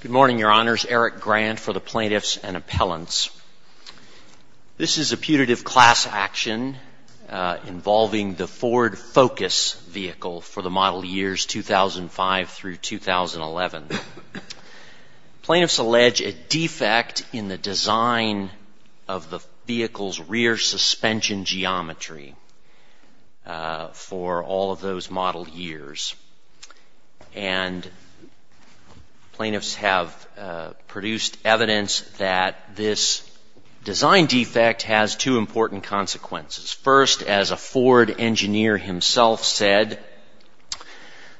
Good morning, Your Honors. Eric Grant for the Plaintiffs and Appellants. This is a putative class action involving the Ford Focus vehicle for the model years 2005 through 2011. Plaintiffs allege a defect in the design of the vehicle's rear suspension geometry for all of those model years. And plaintiffs have produced evidence that this design defect has two important consequences. First, as a Ford engineer himself said,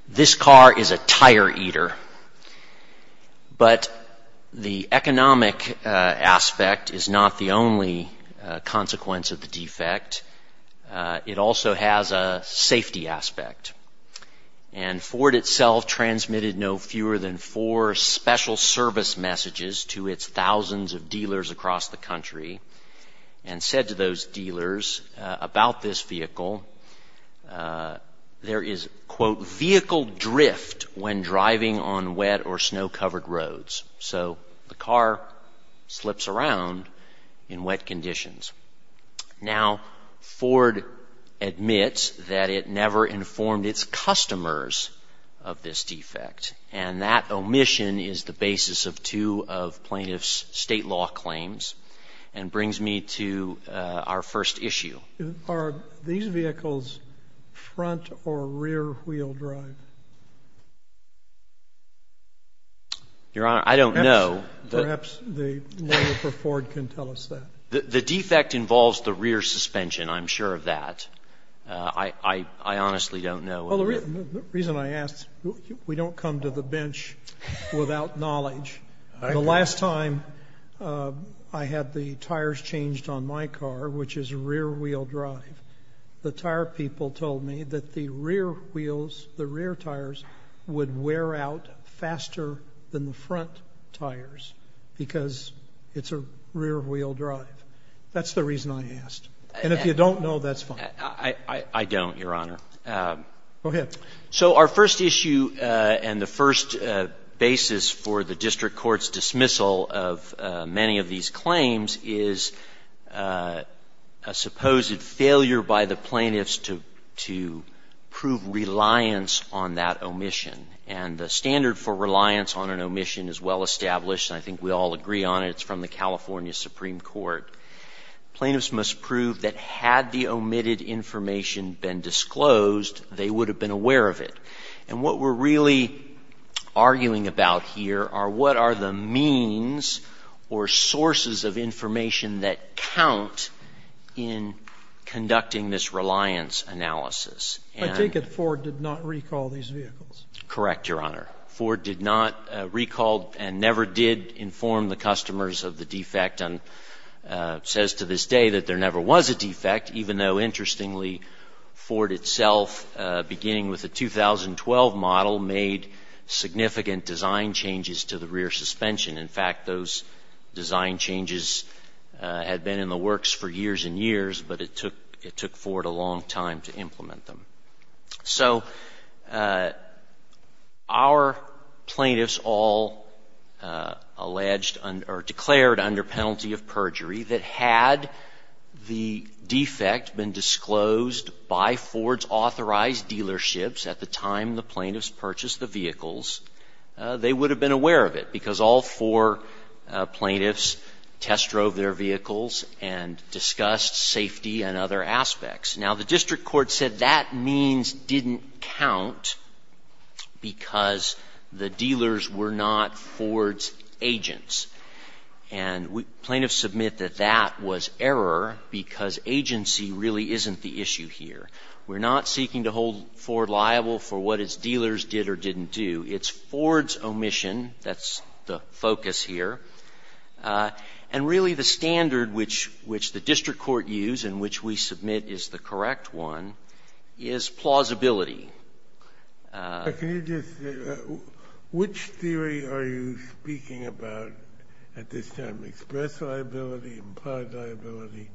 this car is a tire eater. But the economic aspect is not the only consequence of the defect. It also has a safety aspect. And Ford itself transmitted no fewer than four special service messages to its thousands of dealers across the country and said to those dealers about this vehicle, there is, quote, vehicle drift when driving on wet or snow-covered roads. So the car slips around in wet conditions. Now, Ford admits that it never informed its customers of this defect. And that omission is the basis of two of plaintiffs' state law claims and brings me to our first issue. Are these vehicles front or rear wheel drive? Your Honor, I don't know. Perhaps the lawyer for Ford can tell us that. The defect involves the rear suspension, I'm sure of that. I honestly don't know. Well, the reason I ask, we don't come to the bench without knowledge. The last time I had the tires changed on my car, which is rear wheel drive, the tire people told me that the rear wheels, the rear tires would wear out faster than the front tires because it's a rear wheel drive. That's the reason I asked. And if you don't know, that's fine. I don't, Your Honor. Go ahead. So our first issue and the first basis for the district court's dismissal of many of these claims is a supposed failure by the plaintiffs to prove reliance on that omission. And the standard for reliance on an omission is well established, and I think we all agree on it. It's from the California Supreme Court. Plaintiffs must prove that had the omitted information been disclosed, they would have been aware of it. And what we're really arguing about here are what are the means or sources of information that count in conducting this reliance analysis. I take it Ford did not recall these vehicles. Correct, Your Honor. Ford did not recall and never did inform the customers of the defect and says to this day that there never was a defect, even though, interestingly, Ford itself, beginning with the 2012 model, made significant design changes to the rear suspension. In fact, those design changes had been in the works for years and years, but it took Ford a long time to implement them. So our plaintiffs all alleged or declared under penalty of perjury that had the defect been disclosed by Ford's authorized dealerships at the time the plaintiffs purchased the vehicles, they would have been aware of it, because all four plaintiffs test drove their vehicles and discussed safety and other aspects. Now, the district court said that means didn't count because the dealers were not Ford's agents. And plaintiffs submit that that was error because agency really isn't the issue here. We're not seeking to hold Ford liable for what its dealers did or didn't do. It's Ford's omission that's the focus here. And really, the standard which the district court used and which we submit is the correct one is plausibility. Kennedy, which theory are you speaking about at this time, express liability, implied liability?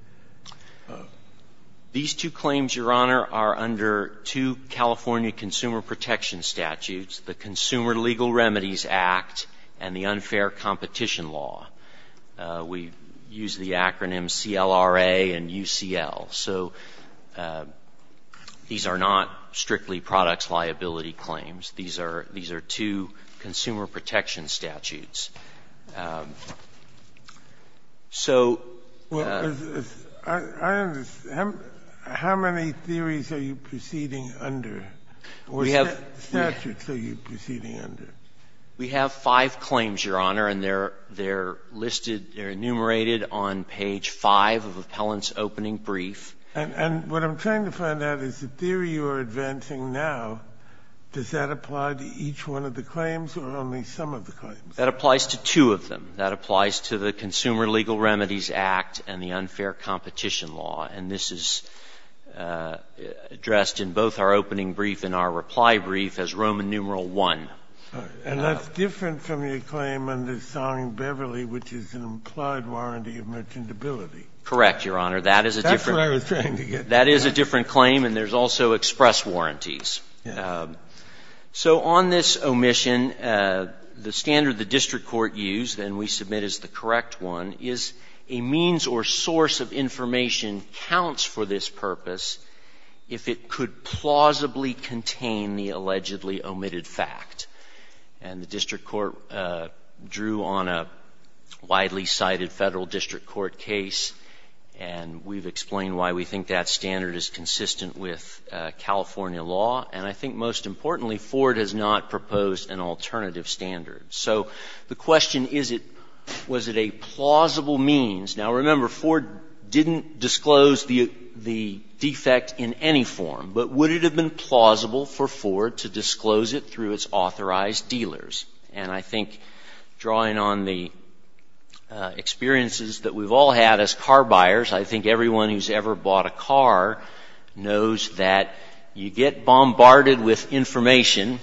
These two claims, Your Honor, are under two California consumer protection statutes, the Consumer Legal Remedies Act and the Unfair Competition Law. We use the acronyms CLRA and UCL. So these are not strictly products liability claims. These are two consumer protection statutes. So ---- I understand. How many theories are you proceeding under? Or statutes are you proceeding under? We have five claims, Your Honor, and they're listed, they're enumerated on page 5 of Appellant's opening brief. And what I'm trying to find out is the theory you are advancing now, does that apply to each one of the claims or only some of the claims? That applies to two of them. That applies to the Consumer Legal Remedies Act and the Unfair Competition Law. And this is addressed in both our opening brief and our reply brief as Roman numeral 1. And that's different from your claim under Song-Beverly, which is an implied warranty of merchantability. Correct, Your Honor. That is a different ---- That's what I was trying to get to. That is a different claim, and there's also express warranties. So on this omission, the standard the district court used, and we submit as the correct one, is a means or source of information counts for this purpose if it could plausibly contain the allegedly omitted fact. And the district court drew on a widely cited Federal district court case, and we've explained why we think that standard is consistent with California law. And I think most importantly, Ford has not proposed an alternative standard. So the question is, was it a plausible means? Now, remember, Ford didn't disclose the defect in any form, but would it have been plausible for Ford to disclose it through its authorized dealers? And I think drawing on the experiences that we've all had as car buyers, I think everyone who's ever bought a car knows that you get bombarded with information,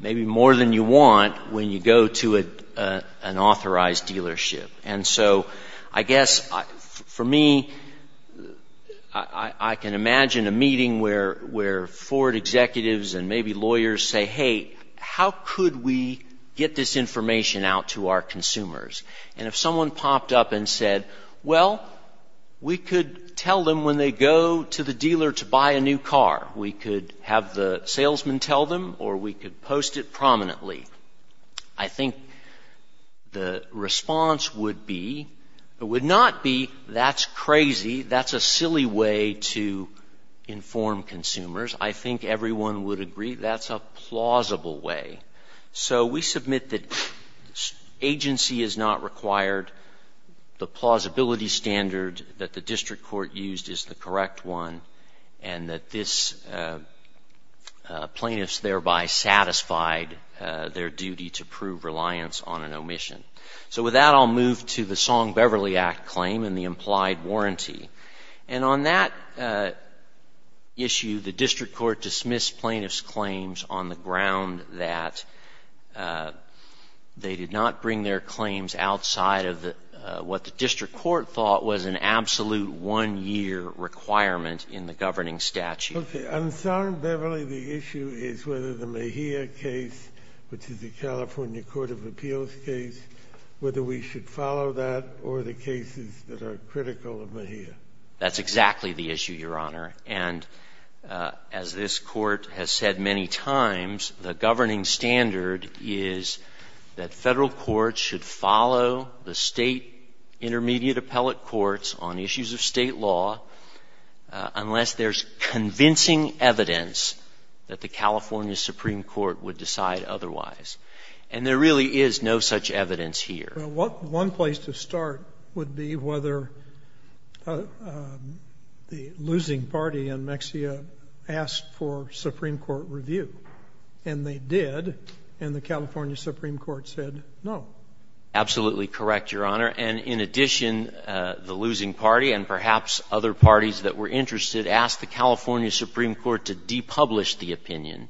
maybe more than you want, when you go to an authorized dealership. And so I guess for me, I can imagine a meeting where Ford executives and maybe lawyers say, hey, how could we get this information out to our consumers? And if someone popped up and said, well, we could tell them when they go to the dealership, we could post it prominently, I think the response would be, it would not be, that's crazy, that's a silly way to inform consumers. I think everyone would agree that's a plausible way. So we submit that agency is not required, the plausibility standard that the district court used is the correct one, and that this plaintiff's thereby satisfied their duty to prove reliance on an omission. So with that, I'll move to the Song-Beverly Act claim and the implied warranty. And on that issue, the district court dismissed plaintiff's claims on the ground that they did not bring their claims outside of what the district court thought was an absolute one-year requirement in the governing statute. Okay. On Song-Beverly, the issue is whether the Mejia case, which is the California Court of Appeals case, whether we should follow that or the cases that are critical of Mejia. That's exactly the issue, Your Honor. And as this Court has said many times, the governing standard is that Federal courts should follow the State intermediate appellate courts on issues of State law unless there's convincing evidence that the California Supreme Court would decide otherwise. And there really is no such evidence here. Well, one place to start would be whether the losing party in Mejia asked for Supreme Court review. And they did, and the California Supreme Court said no. Absolutely correct, Your Honor. And in addition, the losing party and perhaps other parties that were interested asked the California Supreme Court to depublish the opinion,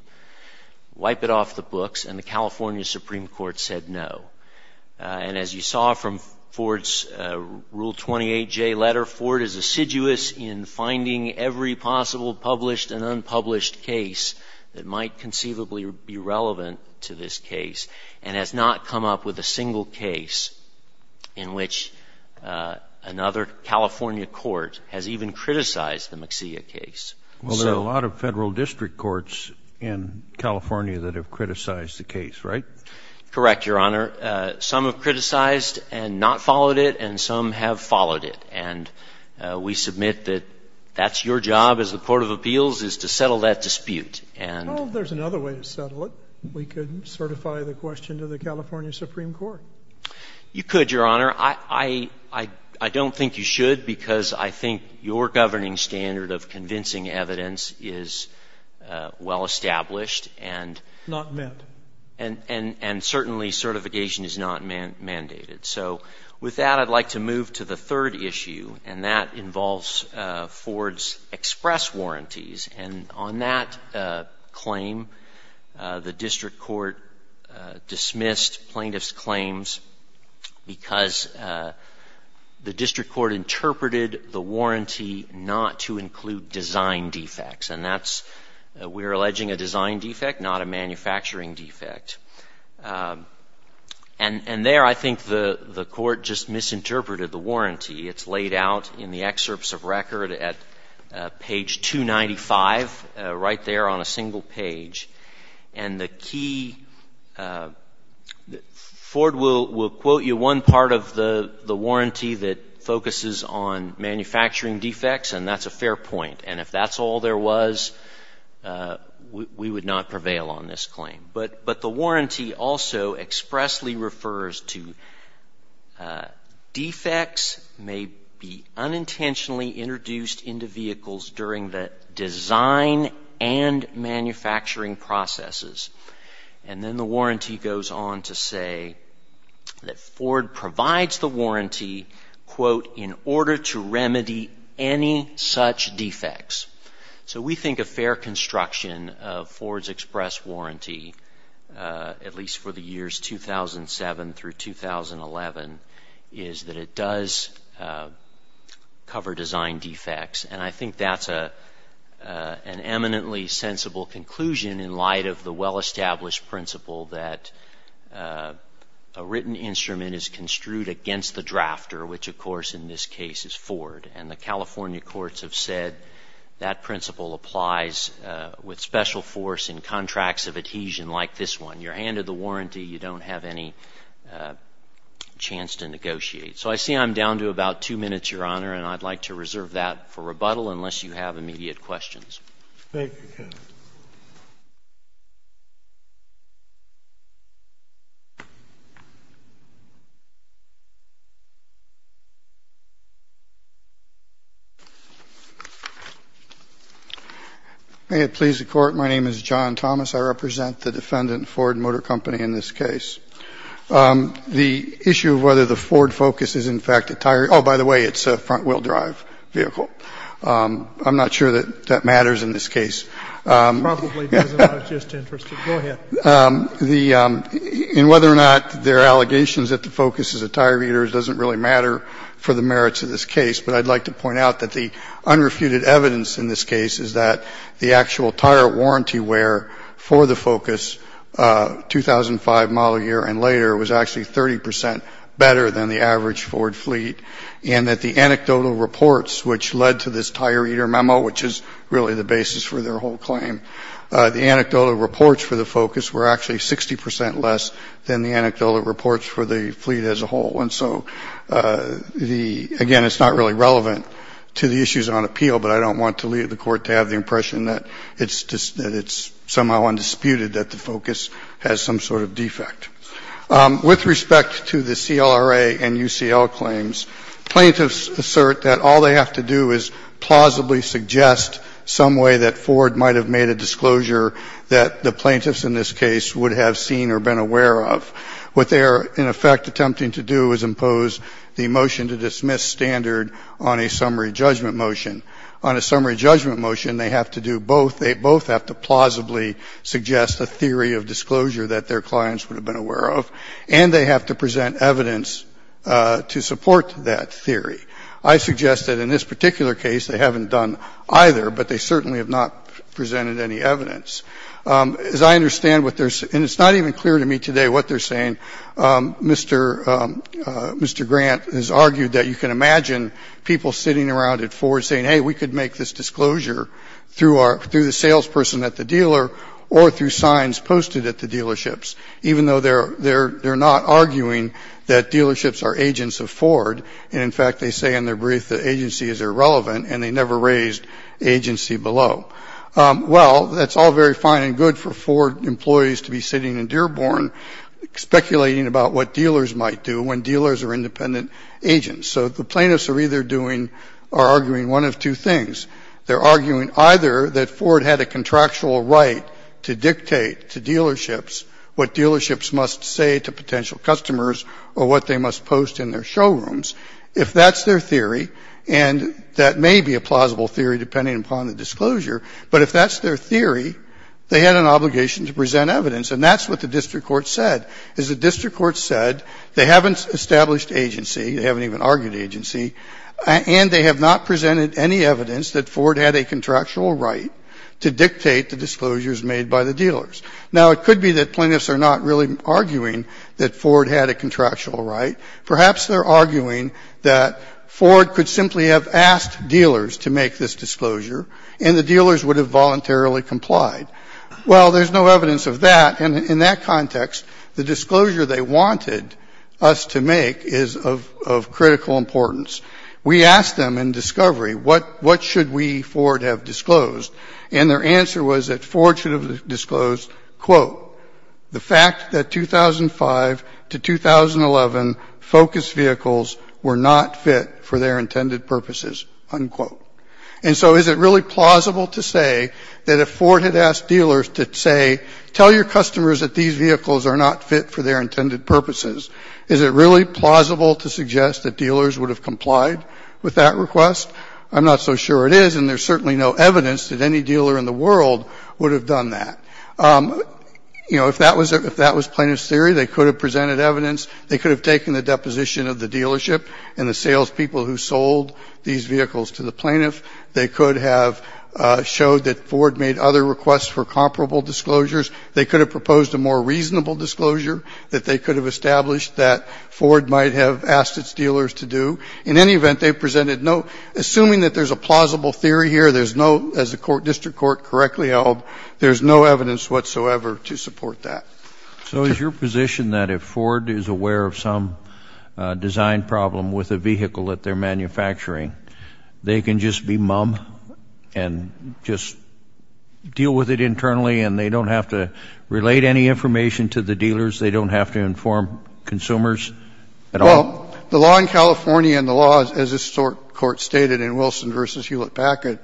wipe it off the books, and the California Supreme Court said no. And as you saw from Ford's Rule 28J letter, Ford is assiduous in finding every possible published and unpublished case that might conceivably be relevant to this case and has not come up with a single case in which another California court has even criticized the Mejia case. Well, there are a lot of Federal district courts in California that have criticized the case, right? Correct, Your Honor. Some have criticized and not followed it, and some have followed it. And we submit that that's your job as the court of appeals is to settle that dispute. Well, there's another way to settle it. We could certify the question to the California Supreme Court. You could, Your Honor. I don't think you should, because I think your governing standard of convincing evidence is well established and — Not met. And certainly certification is not mandated. So with that, I'd like to move to the third issue, and that involves Ford's express warranties. And on that claim, the district court dismissed plaintiff's claims because the district court interpreted the warranty not to include design defects. And that's — we're alleging a design defect, not a manufacturing defect. And there, I think the court just misinterpreted the warranty. It's laid out in the excerpts of record at page 295, right there on a single page. And the key — Ford will quote you one part of the warranty that focuses on manufacturing defects, and that's a fair point. And if that's all there was, we would not prevail on this claim. But the warranty also expressly refers to defects may be unintentionally introduced into vehicles during the design and manufacturing processes. And then the warranty goes on to say that Ford provides the warranty, quote, in order to remedy any such defects. So we think a fair construction of Ford's express warranty, at least for the years 2007 through 2011, is that it does cover design defects. And I think that's an eminently sensible conclusion in light of the well-established principle that a written instrument is construed against the drafter, which, of course, in this case is Ford. And the California courts have said that principle applies with special force in contracts of adhesion like this one. You're handed the warranty. You don't have any chance to negotiate. So I see I'm down to about two minutes, Your Honor, and I'd like to reserve that for rebuttal unless you have immediate questions. Thank you, counsel. May it please the Court. My name is John Thomas. I represent the defendant, Ford Motor Company, in this case. The issue of whether the Ford Focus is, in fact, a tire — oh, by the way, it's a front-wheel drive vehicle. I'm not sure that that matters in this case. It probably doesn't. I was just interested. Go ahead. In whether or not there are allegations that the Focus is a tire heater doesn't really matter for the merits of this case, but I'd like to point out that the unrefuted evidence in this case is that the actual tire warranty wear for the Focus, 2005 model year and later, was actually 30 percent better than the average Ford fleet, and that the anecdotal reports, which led to this tire heater memo, which is really the basis for their whole claim, the anecdotal reports for the Focus were actually 60 percent less than the anecdotal reports for the fleet as a whole. And so the — again, it's not really relevant to the issues on appeal, but I don't want the Court to have the impression that it's somehow undisputed that the Focus has some sort of defect. With respect to the CLRA and UCL claims, plaintiffs assert that all they have to do is plausibly suggest some way that Ford might have made a disclosure that the plaintiffs in this case would have seen or been aware of. What they are, in effect, attempting to do is impose the motion to dismiss standard on a summary judgment motion. On a summary judgment motion, they have to do both. They both have to plausibly suggest a theory of disclosure that their clients would have been aware of, and they have to present evidence to support that theory. I suggest that in this particular case, they haven't done either, but they certainly have not presented any evidence. As I understand what they're — and it's not even clear to me today what they're saying. Mr. — Mr. Grant has argued that you can imagine people sitting around at Ford's dealership arguing that Ford has made a disclosure through the salesperson at the dealer or through signs posted at the dealerships, even though they're not arguing that dealerships are agents of Ford. And in fact, they say in their brief that agency is irrelevant, and they never raised agency below. Well, that's all very fine and good for Ford employees to be sitting in Dearborn speculating about what dealers might do when dealers are independent agents. So the plaintiffs are either doing or arguing one of two things. They're arguing either that Ford had a contractual right to dictate to dealerships what dealerships must say to potential customers or what they must post in their showrooms. If that's their theory, and that may be a plausible theory depending upon the disclosure, but if that's their theory, they had an obligation to present evidence. And that's what the district court said, is the district court said they haven't established agency, they haven't even argued agency, and they have not presented any evidence that Ford had a contractual right to dictate the disclosures made by the dealers. Now, it could be that plaintiffs are not really arguing that Ford had a contractual right. Perhaps they're arguing that Ford could simply have asked dealers to make this disclosure, and the dealers would have voluntarily complied. Well, there's no evidence of that. And in that context, the disclosure they wanted us to make is of critical importance. We asked them in discovery, what should we, Ford, have disclosed? And their answer was that Ford should have disclosed, quote, the fact that 2005 to 2011 Focus vehicles were not fit for their intended purposes, unquote. And so is it really plausible to say that if Ford had asked dealers to say, tell your customers that these vehicles are not fit for their intended purposes, is it really plausible to suggest that dealers would have complied with that request? I'm not so sure it is, and there's certainly no evidence that any dealer in the world would have done that. You know, if that was plaintiff's theory, they could have presented evidence, they could have taken the deposition of the dealership and the salespeople who sold these vehicles to the plaintiff. They could have showed that Ford made other requests for comparable disclosures. They could have proposed a more reasonable disclosure that they could have established that Ford might have asked its dealers to do. In any event, they presented no, assuming that there's a plausible theory here, there's no, as the court, district court correctly held, there's no evidence whatsoever to support that. So is your position that if Ford is aware of some design problem with a vehicle that they're manufacturing, they can just be mum and just deal with it internally and they don't have to relate any information to the dealers, they don't have to inform consumers at all? Well, the law in California and the law, as this Court stated in Wilson v. Hewlett-Packard,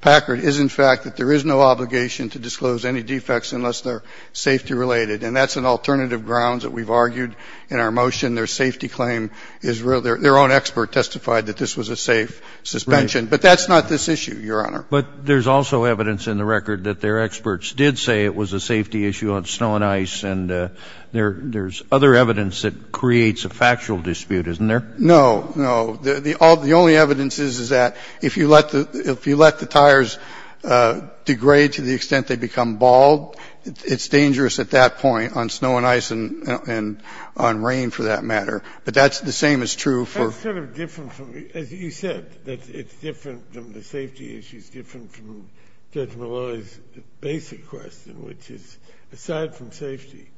Packard is, in fact, that there is no obligation to disclose any defects unless they're safety-related. And that's an alternative grounds that we've argued in our motion. Their safety claim is real. Their own expert testified that this was a safe suspension. But that's not this issue, Your Honor. But there's also evidence in the record that their experts did say it was a safety issue on snow and ice, and there's other evidence that creates a factual dispute, isn't there? No, no. The only evidence is, is that if you let the tires degrade to the extent they become bald, it's dangerous at that point on snow and ice and on rain, for that matter. But that's the same as true for That's sort of different from, as you said, that it's different than the safety issue is different from Judge Maloney's basic question, which is, aside from safety,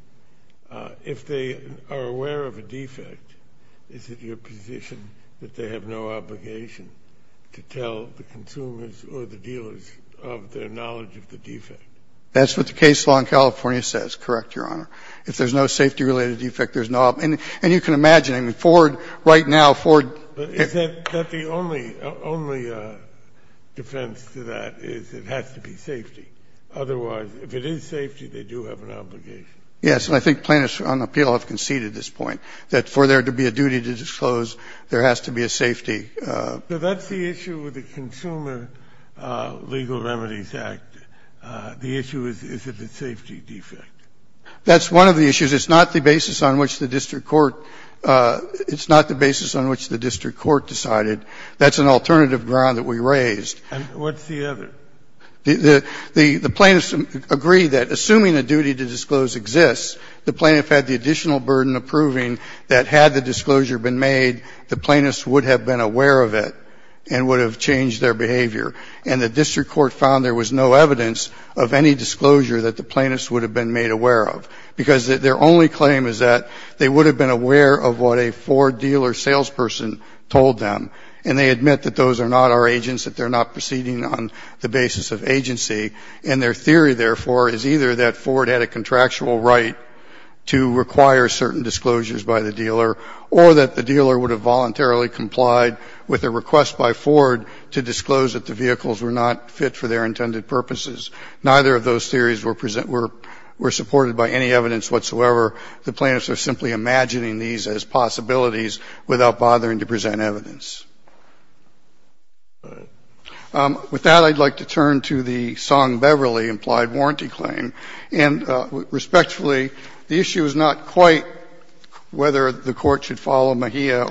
if they are aware of a defect, is it your position that they have no obligation to tell the consumers or the dealers of their knowledge of the defect? That's what the case law in California says, correct, Your Honor. If there's no safety-related defect, there's no obligation. And you can imagine, I mean, Ford, right now, Ford Is that the only, only defense to that is it has to be safety? Otherwise, if it is safety, they do have an obligation. Yes. And I think plaintiffs on appeal have conceded this point, that for there to be a duty to disclose, there has to be a safety So that's the issue with the Consumer Legal Remedies Act. The issue is, is it a safety defect? That's one of the issues. It's not the basis on which the district court – it's not the basis on which the district court decided. That's an alternative ground that we raised. And what's the other? The plaintiffs agree that, assuming a duty to disclose exists, the plaintiff had the additional burden of proving that, had the disclosure been made, the plaintiff would have been aware of it and would have changed their behavior. And the district court found there was no evidence of any disclosure that the plaintiffs would have been made aware of, because their only claim is that they would have been aware of what a Ford dealer salesperson told them. And they admit that those are not our agents, that they're not proceeding on the basis of agency. And their theory, therefore, is either that Ford had a contractual right to require certain disclosures by the dealer or that the dealer would have voluntarily complied with a request by Ford to disclose that the vehicles were not fit for their intended purposes. Neither of those theories were presented – were supported by any evidence whatsoever. The plaintiffs are simply imagining these as possibilities without bothering to present evidence. With that, I'd like to turn to the Song-Beverly implied warranty claim. And respectfully, the issue is not quite whether the Court should follow Mejia.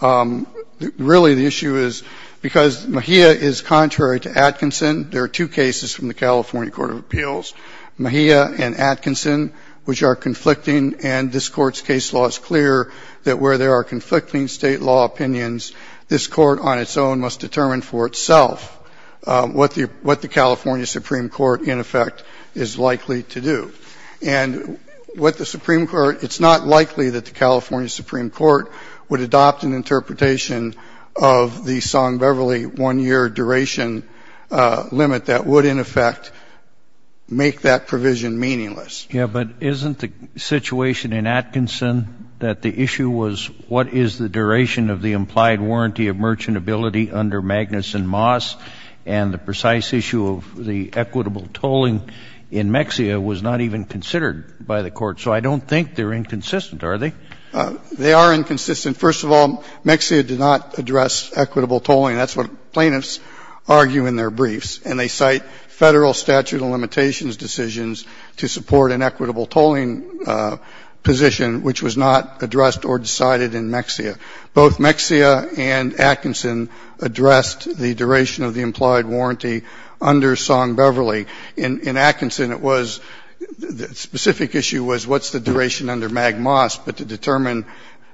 Really, the issue is, because Mejia is contrary to Atkinson, there are two cases from the California Court of Appeals, Mejia and Atkinson, which are conflicting and this Court's case law is clear that where there are conflicting State law opinions, this Court on its own must determine for itself what the – what the California Supreme Court, in effect, is likely to do. And what the Supreme Court – it's not likely that the California Supreme Court would adopt an interpretation of the Song-Beverly 1-year duration limit that would, in effect, make that provision meaningless. Yeah, but isn't the situation in Atkinson that the issue was what is the duration of the implied warranty of merchantability under Magnuson Moss, and the precise issue of the equitable tolling in Mejia was not even considered by the Court. So I don't think they're inconsistent, are they? They are inconsistent. First of all, Mejia did not address equitable tolling. That's what plaintiffs argue in their briefs, and they cite Federal statute of limitations decisions to support an equitable tolling position which was not addressed or decided in Mejia. Both Mejia and Atkinson addressed the duration of the implied warranty under Song-Beverly. In Atkinson, it was – the specific issue was what's the duration under Magnuson Moss, but to determine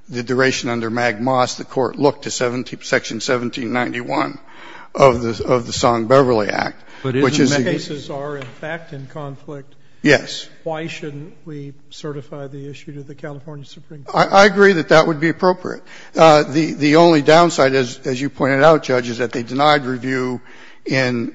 the duration under Magnuson Moss, the Court looked to section 1791 of the Song-Beverly Act, which is the case. But if the cases are in fact in conflict, why shouldn't we certify the issue to the California Supreme Court? I agree that that would be appropriate. The only downside, as you pointed out, Judge, is that they denied review in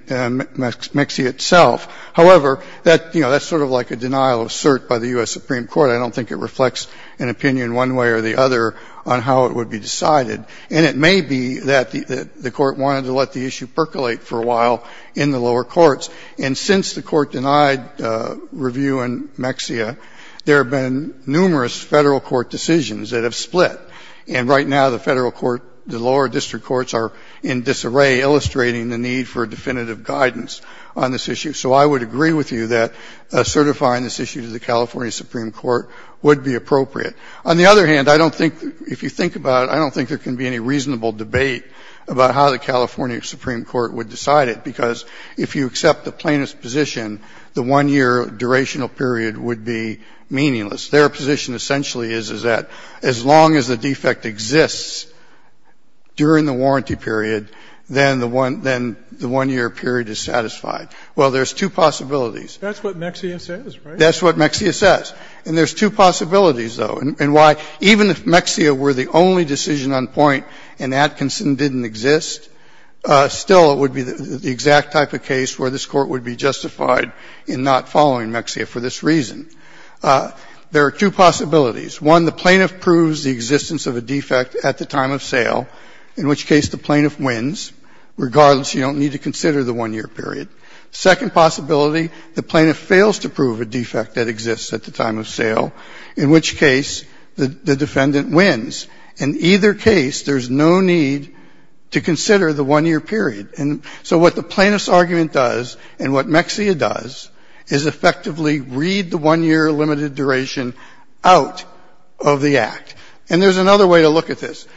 Mixey itself. However, that's sort of like a denial of cert by the U.S. Supreme Court. I don't think it reflects an opinion one way or the other on how it would be decided. And it may be that the Court wanted to let the issue percolate for a while in the lower courts. And since the Court denied review in Mejia, there have been numerous Federal court decisions that have split. And right now, the Federal court, the lower district courts are in disarray illustrating the need for definitive guidance on this issue. So I would agree with you that certifying this issue to the California Supreme Court would be appropriate. On the other hand, I don't think, if you think about it, I don't think there can be any reasonable debate about how the California Supreme Court would decide it, because if you accept the plaintiff's position, the one-year durational period would be meaningless. Their position essentially is, is that as long as the defect exists during the warranty period, then the one year period is satisfied. Well, there's two possibilities. Scalia. That's what Mejia says, right? That's what Mejia says. And there's two possibilities, though. And why, even if Mejia were the only decision on point and Atkinson didn't exist, still it would be the exact type of case where this Court would be justified in not following Mejia for this reason. There are two possibilities. One, the plaintiff proves the existence of a defect at the time of sale, in which case the plaintiff wins, regardless, you don't need to consider the one-year period. Second possibility, the plaintiff fails to prove a defect that exists at the time of sale, in which case the defendant wins. In either case, there's no need to consider the one-year period. And so what the plaintiff's argument does, and what Mejia does, is effectively read the one-year limited duration out of the Act. And there's another way to look at this.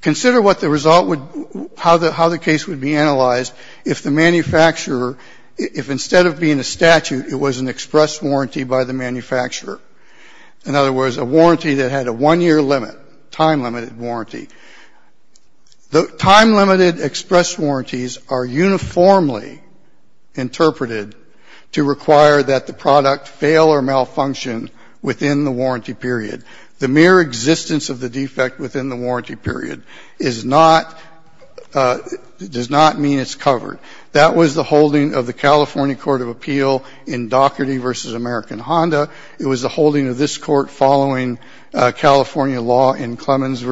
Consider what the result would be, how the case would be analyzed if the manufacturer — if instead of being a statute, it was an express warranty by the manufacturer. In other words, a warranty that had a one-year limit, time-limited warranty. Time-limited express warranties are uniformly interpreted to require that the product fail or malfunction within the warranty period. The mere existence of the defect within the warranty period is not — does not mean it's covered. That was the holding of the California Court of Appeal in Daugherty v. American Honda. It was the holding of this Court following California law in Clemens v.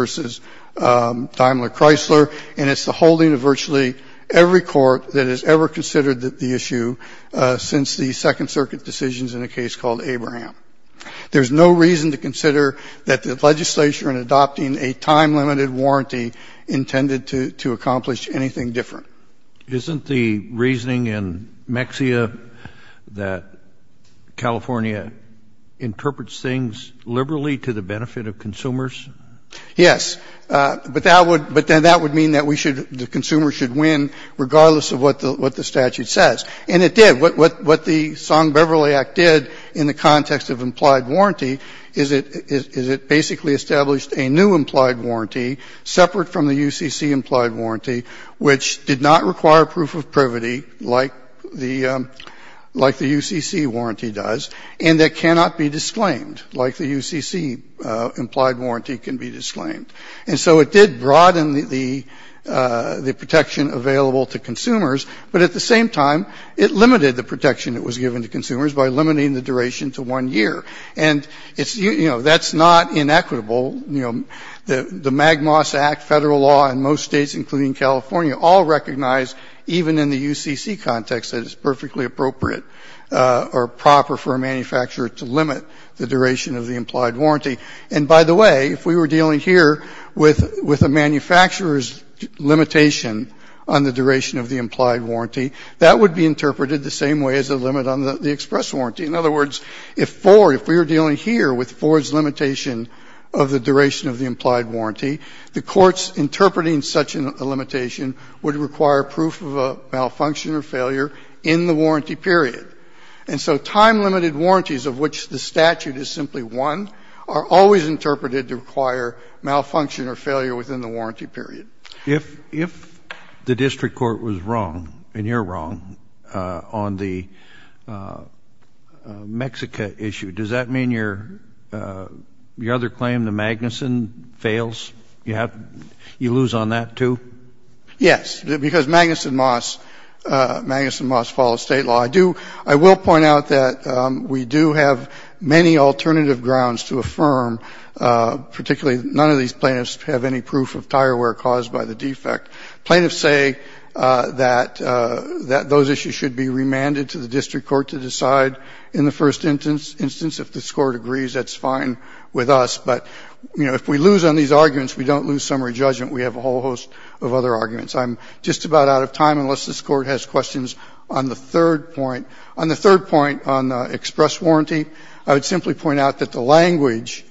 Daimler Chrysler. And it's the holding of virtually every court that has ever considered the issue since the Second Circuit decisions in a case called Abraham. There's no reason to consider that the legislature in adopting a time-limited warranty intended to accomplish anything different. Isn't the reasoning in Mexia that California interprets things liberally to the benefit of consumers? Yes. But that would — but then that would mean that we should — the consumer should win regardless of what the statute says. And it did. What the Song-Beverly Act did in the context of implied warranty is it basically established a new implied warranty separate from the UCC implied warranty, which did not require proof of privity like the — like the UCC warranty does, and that cannot be disclaimed like the UCC implied warranty can be disclaimed. And so it did broaden the protection available to consumers, but at the same time it limited the protection that was given to consumers by limiting the duration to one year. And it's — you know, that's not inequitable. You know, the MAGMAS Act, federal law in most states, including California, all recognize, even in the UCC context, that it's perfectly appropriate or proper for a manufacturer to limit the duration of the implied warranty. And, by the way, if we were dealing here with a manufacturer's limitation on the duration of the implied warranty, that would be interpreted the same way as a limit on the express warranty. In other words, if Ford — if we were dealing here with Ford's limitation of the duration of the implied warranty, the courts interpreting such a limitation would require proof of a malfunction or failure in the warranty period. And so time-limited warranties, of which the statute is simply one, are always interpreted to require malfunction or failure within the warranty period. Kennedy. If the district court was wrong, and you're wrong, on the Mexica issue, does that mean your other claim, the Magnuson, fails? You lose on that, too? Yes, because Magnuson Moss follows State law. I do — I will point out that we do have many alternative grounds to affirm, particularly none of these plaintiffs have any proof of tire wear caused by the defect. Plaintiffs say that those issues should be remanded to the district court to decide in the first instance. If this Court agrees, that's fine with us. But, you know, if we lose on these arguments, we don't lose summary judgment. We have a whole host of other arguments. I'm just about out of time unless this Court has questions on the third point. On the third point on express warranty, I would simply point out that the language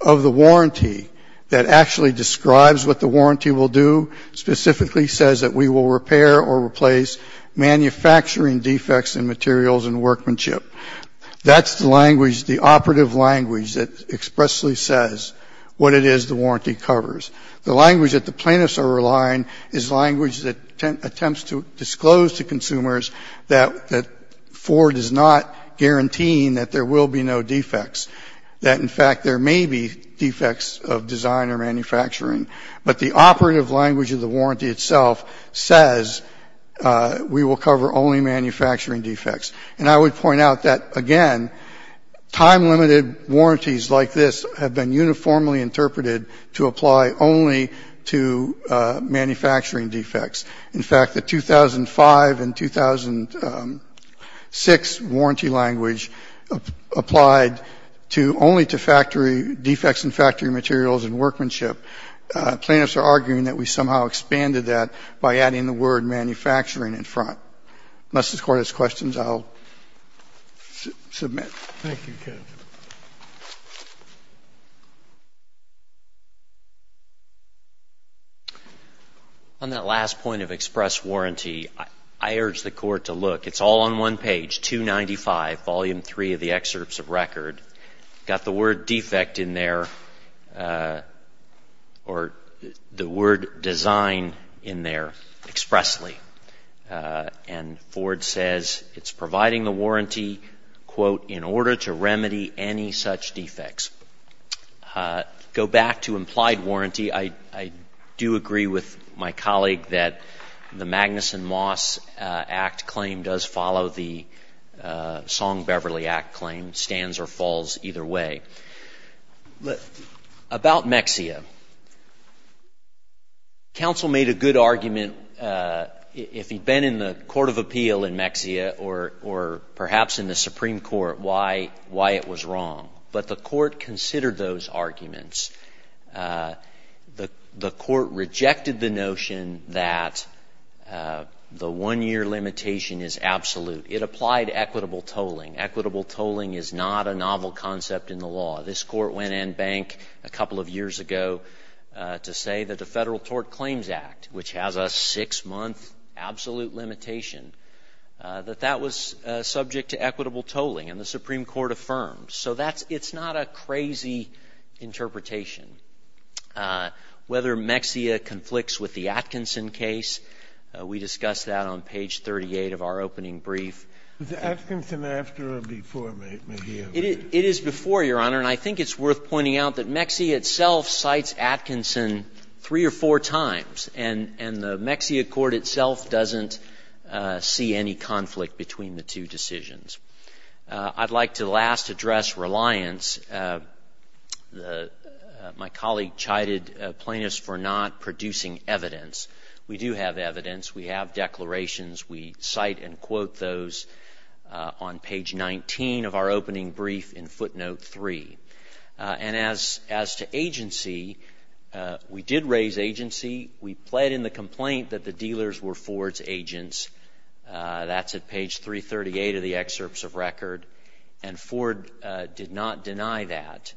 of the warranty that actually describes what the warranty will do specifically says that we will repair or replace manufacturing defects in materials and workmanship. That's the language, the operative language that expressly says what it is the warranty covers. The language that the plaintiffs are relying is language that attempts to disclose to consumers that Ford is not guaranteeing that there will be no defects, that, in fact, there may be defects of design or manufacturing. But the operative language of the warranty itself says we will cover only manufacturing defects. And I would point out that, again, time-limited warranties like this have been uniformly interpreted to apply only to manufacturing defects. In fact, the 2005 and 2006 warranty language applied to only to factory defects and factory materials and workmanship. Plaintiffs are arguing that we somehow expanded that by adding the word manufacturing in front. Unless this Court has questions, I'll submit. Thank you, counsel. On that last point of express warranty, I urge the Court to look. It's all on one page, 295, volume 3 of the excerpts of record. Got the word defect in there or the word design in there expressly. And Ford says it's providing the warranty, quote, in order to remedy any such defects. Go back to implied warranty. I do agree with my colleague that the Magnuson-Moss Act claim does follow the Song-Beverly Act claim, stands or falls either way. About Mexia, counsel made a good argument, if he'd been in the Court of Appeal in Mexia or perhaps in the Supreme Court, why it was wrong. But the Court considered those arguments. The Court rejected the notion that the one-year limitation is absolute. It applied equitable tolling. Equitable tolling is not a novel concept in the law. This Court went and banked a couple of years ago to say that the Federal Tort Claims Act, which has a six-month absolute limitation, that that was subject to equitable tolling, and the Supreme Court affirmed. So that's — it's not a crazy interpretation. Whether Mexia conflicts with the Atkinson case, we discussed that on page 38 of our opening brief. Was Atkinson after or before Medea? It is before, Your Honor. And I think it's worth pointing out that Mexia itself cites Atkinson three or four times, and the Mexia court itself doesn't see any conflict between the two decisions. I'd like to last address reliance. My colleague chided plaintiffs for not producing evidence. We do have evidence. We have declarations. We cite and quote those on page 19 of our opening brief in footnote 3. And as to agency, we did raise agency. We pled in the complaint that the dealers were Ford's agents. That's at page 338 of the excerpts of record, and Ford did not deny that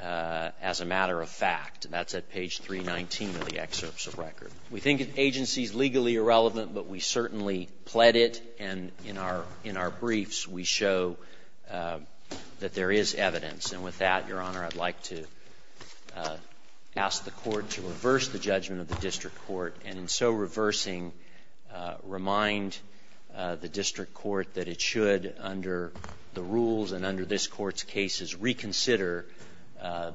as a matter of fact. That's at page 319 of the excerpts of record. We think agency is legally irrelevant, but we certainly pled it, and in our briefs we show that there is evidence. And with that, Your Honor, I'd like to ask the Court to reverse the judgment of the district court, and in so reversing, remind the district court that it should under the rules and under this Court's cases reconsider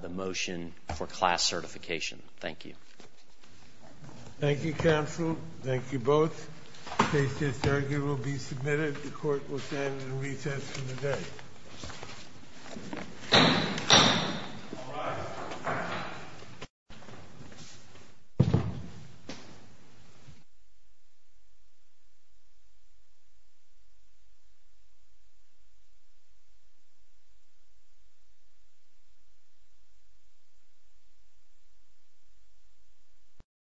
the motion for class certification. Thank you. Thank you, counsel. Thank you both. Case disargued will be submitted. The Court will stand in recess for the day. Thank you.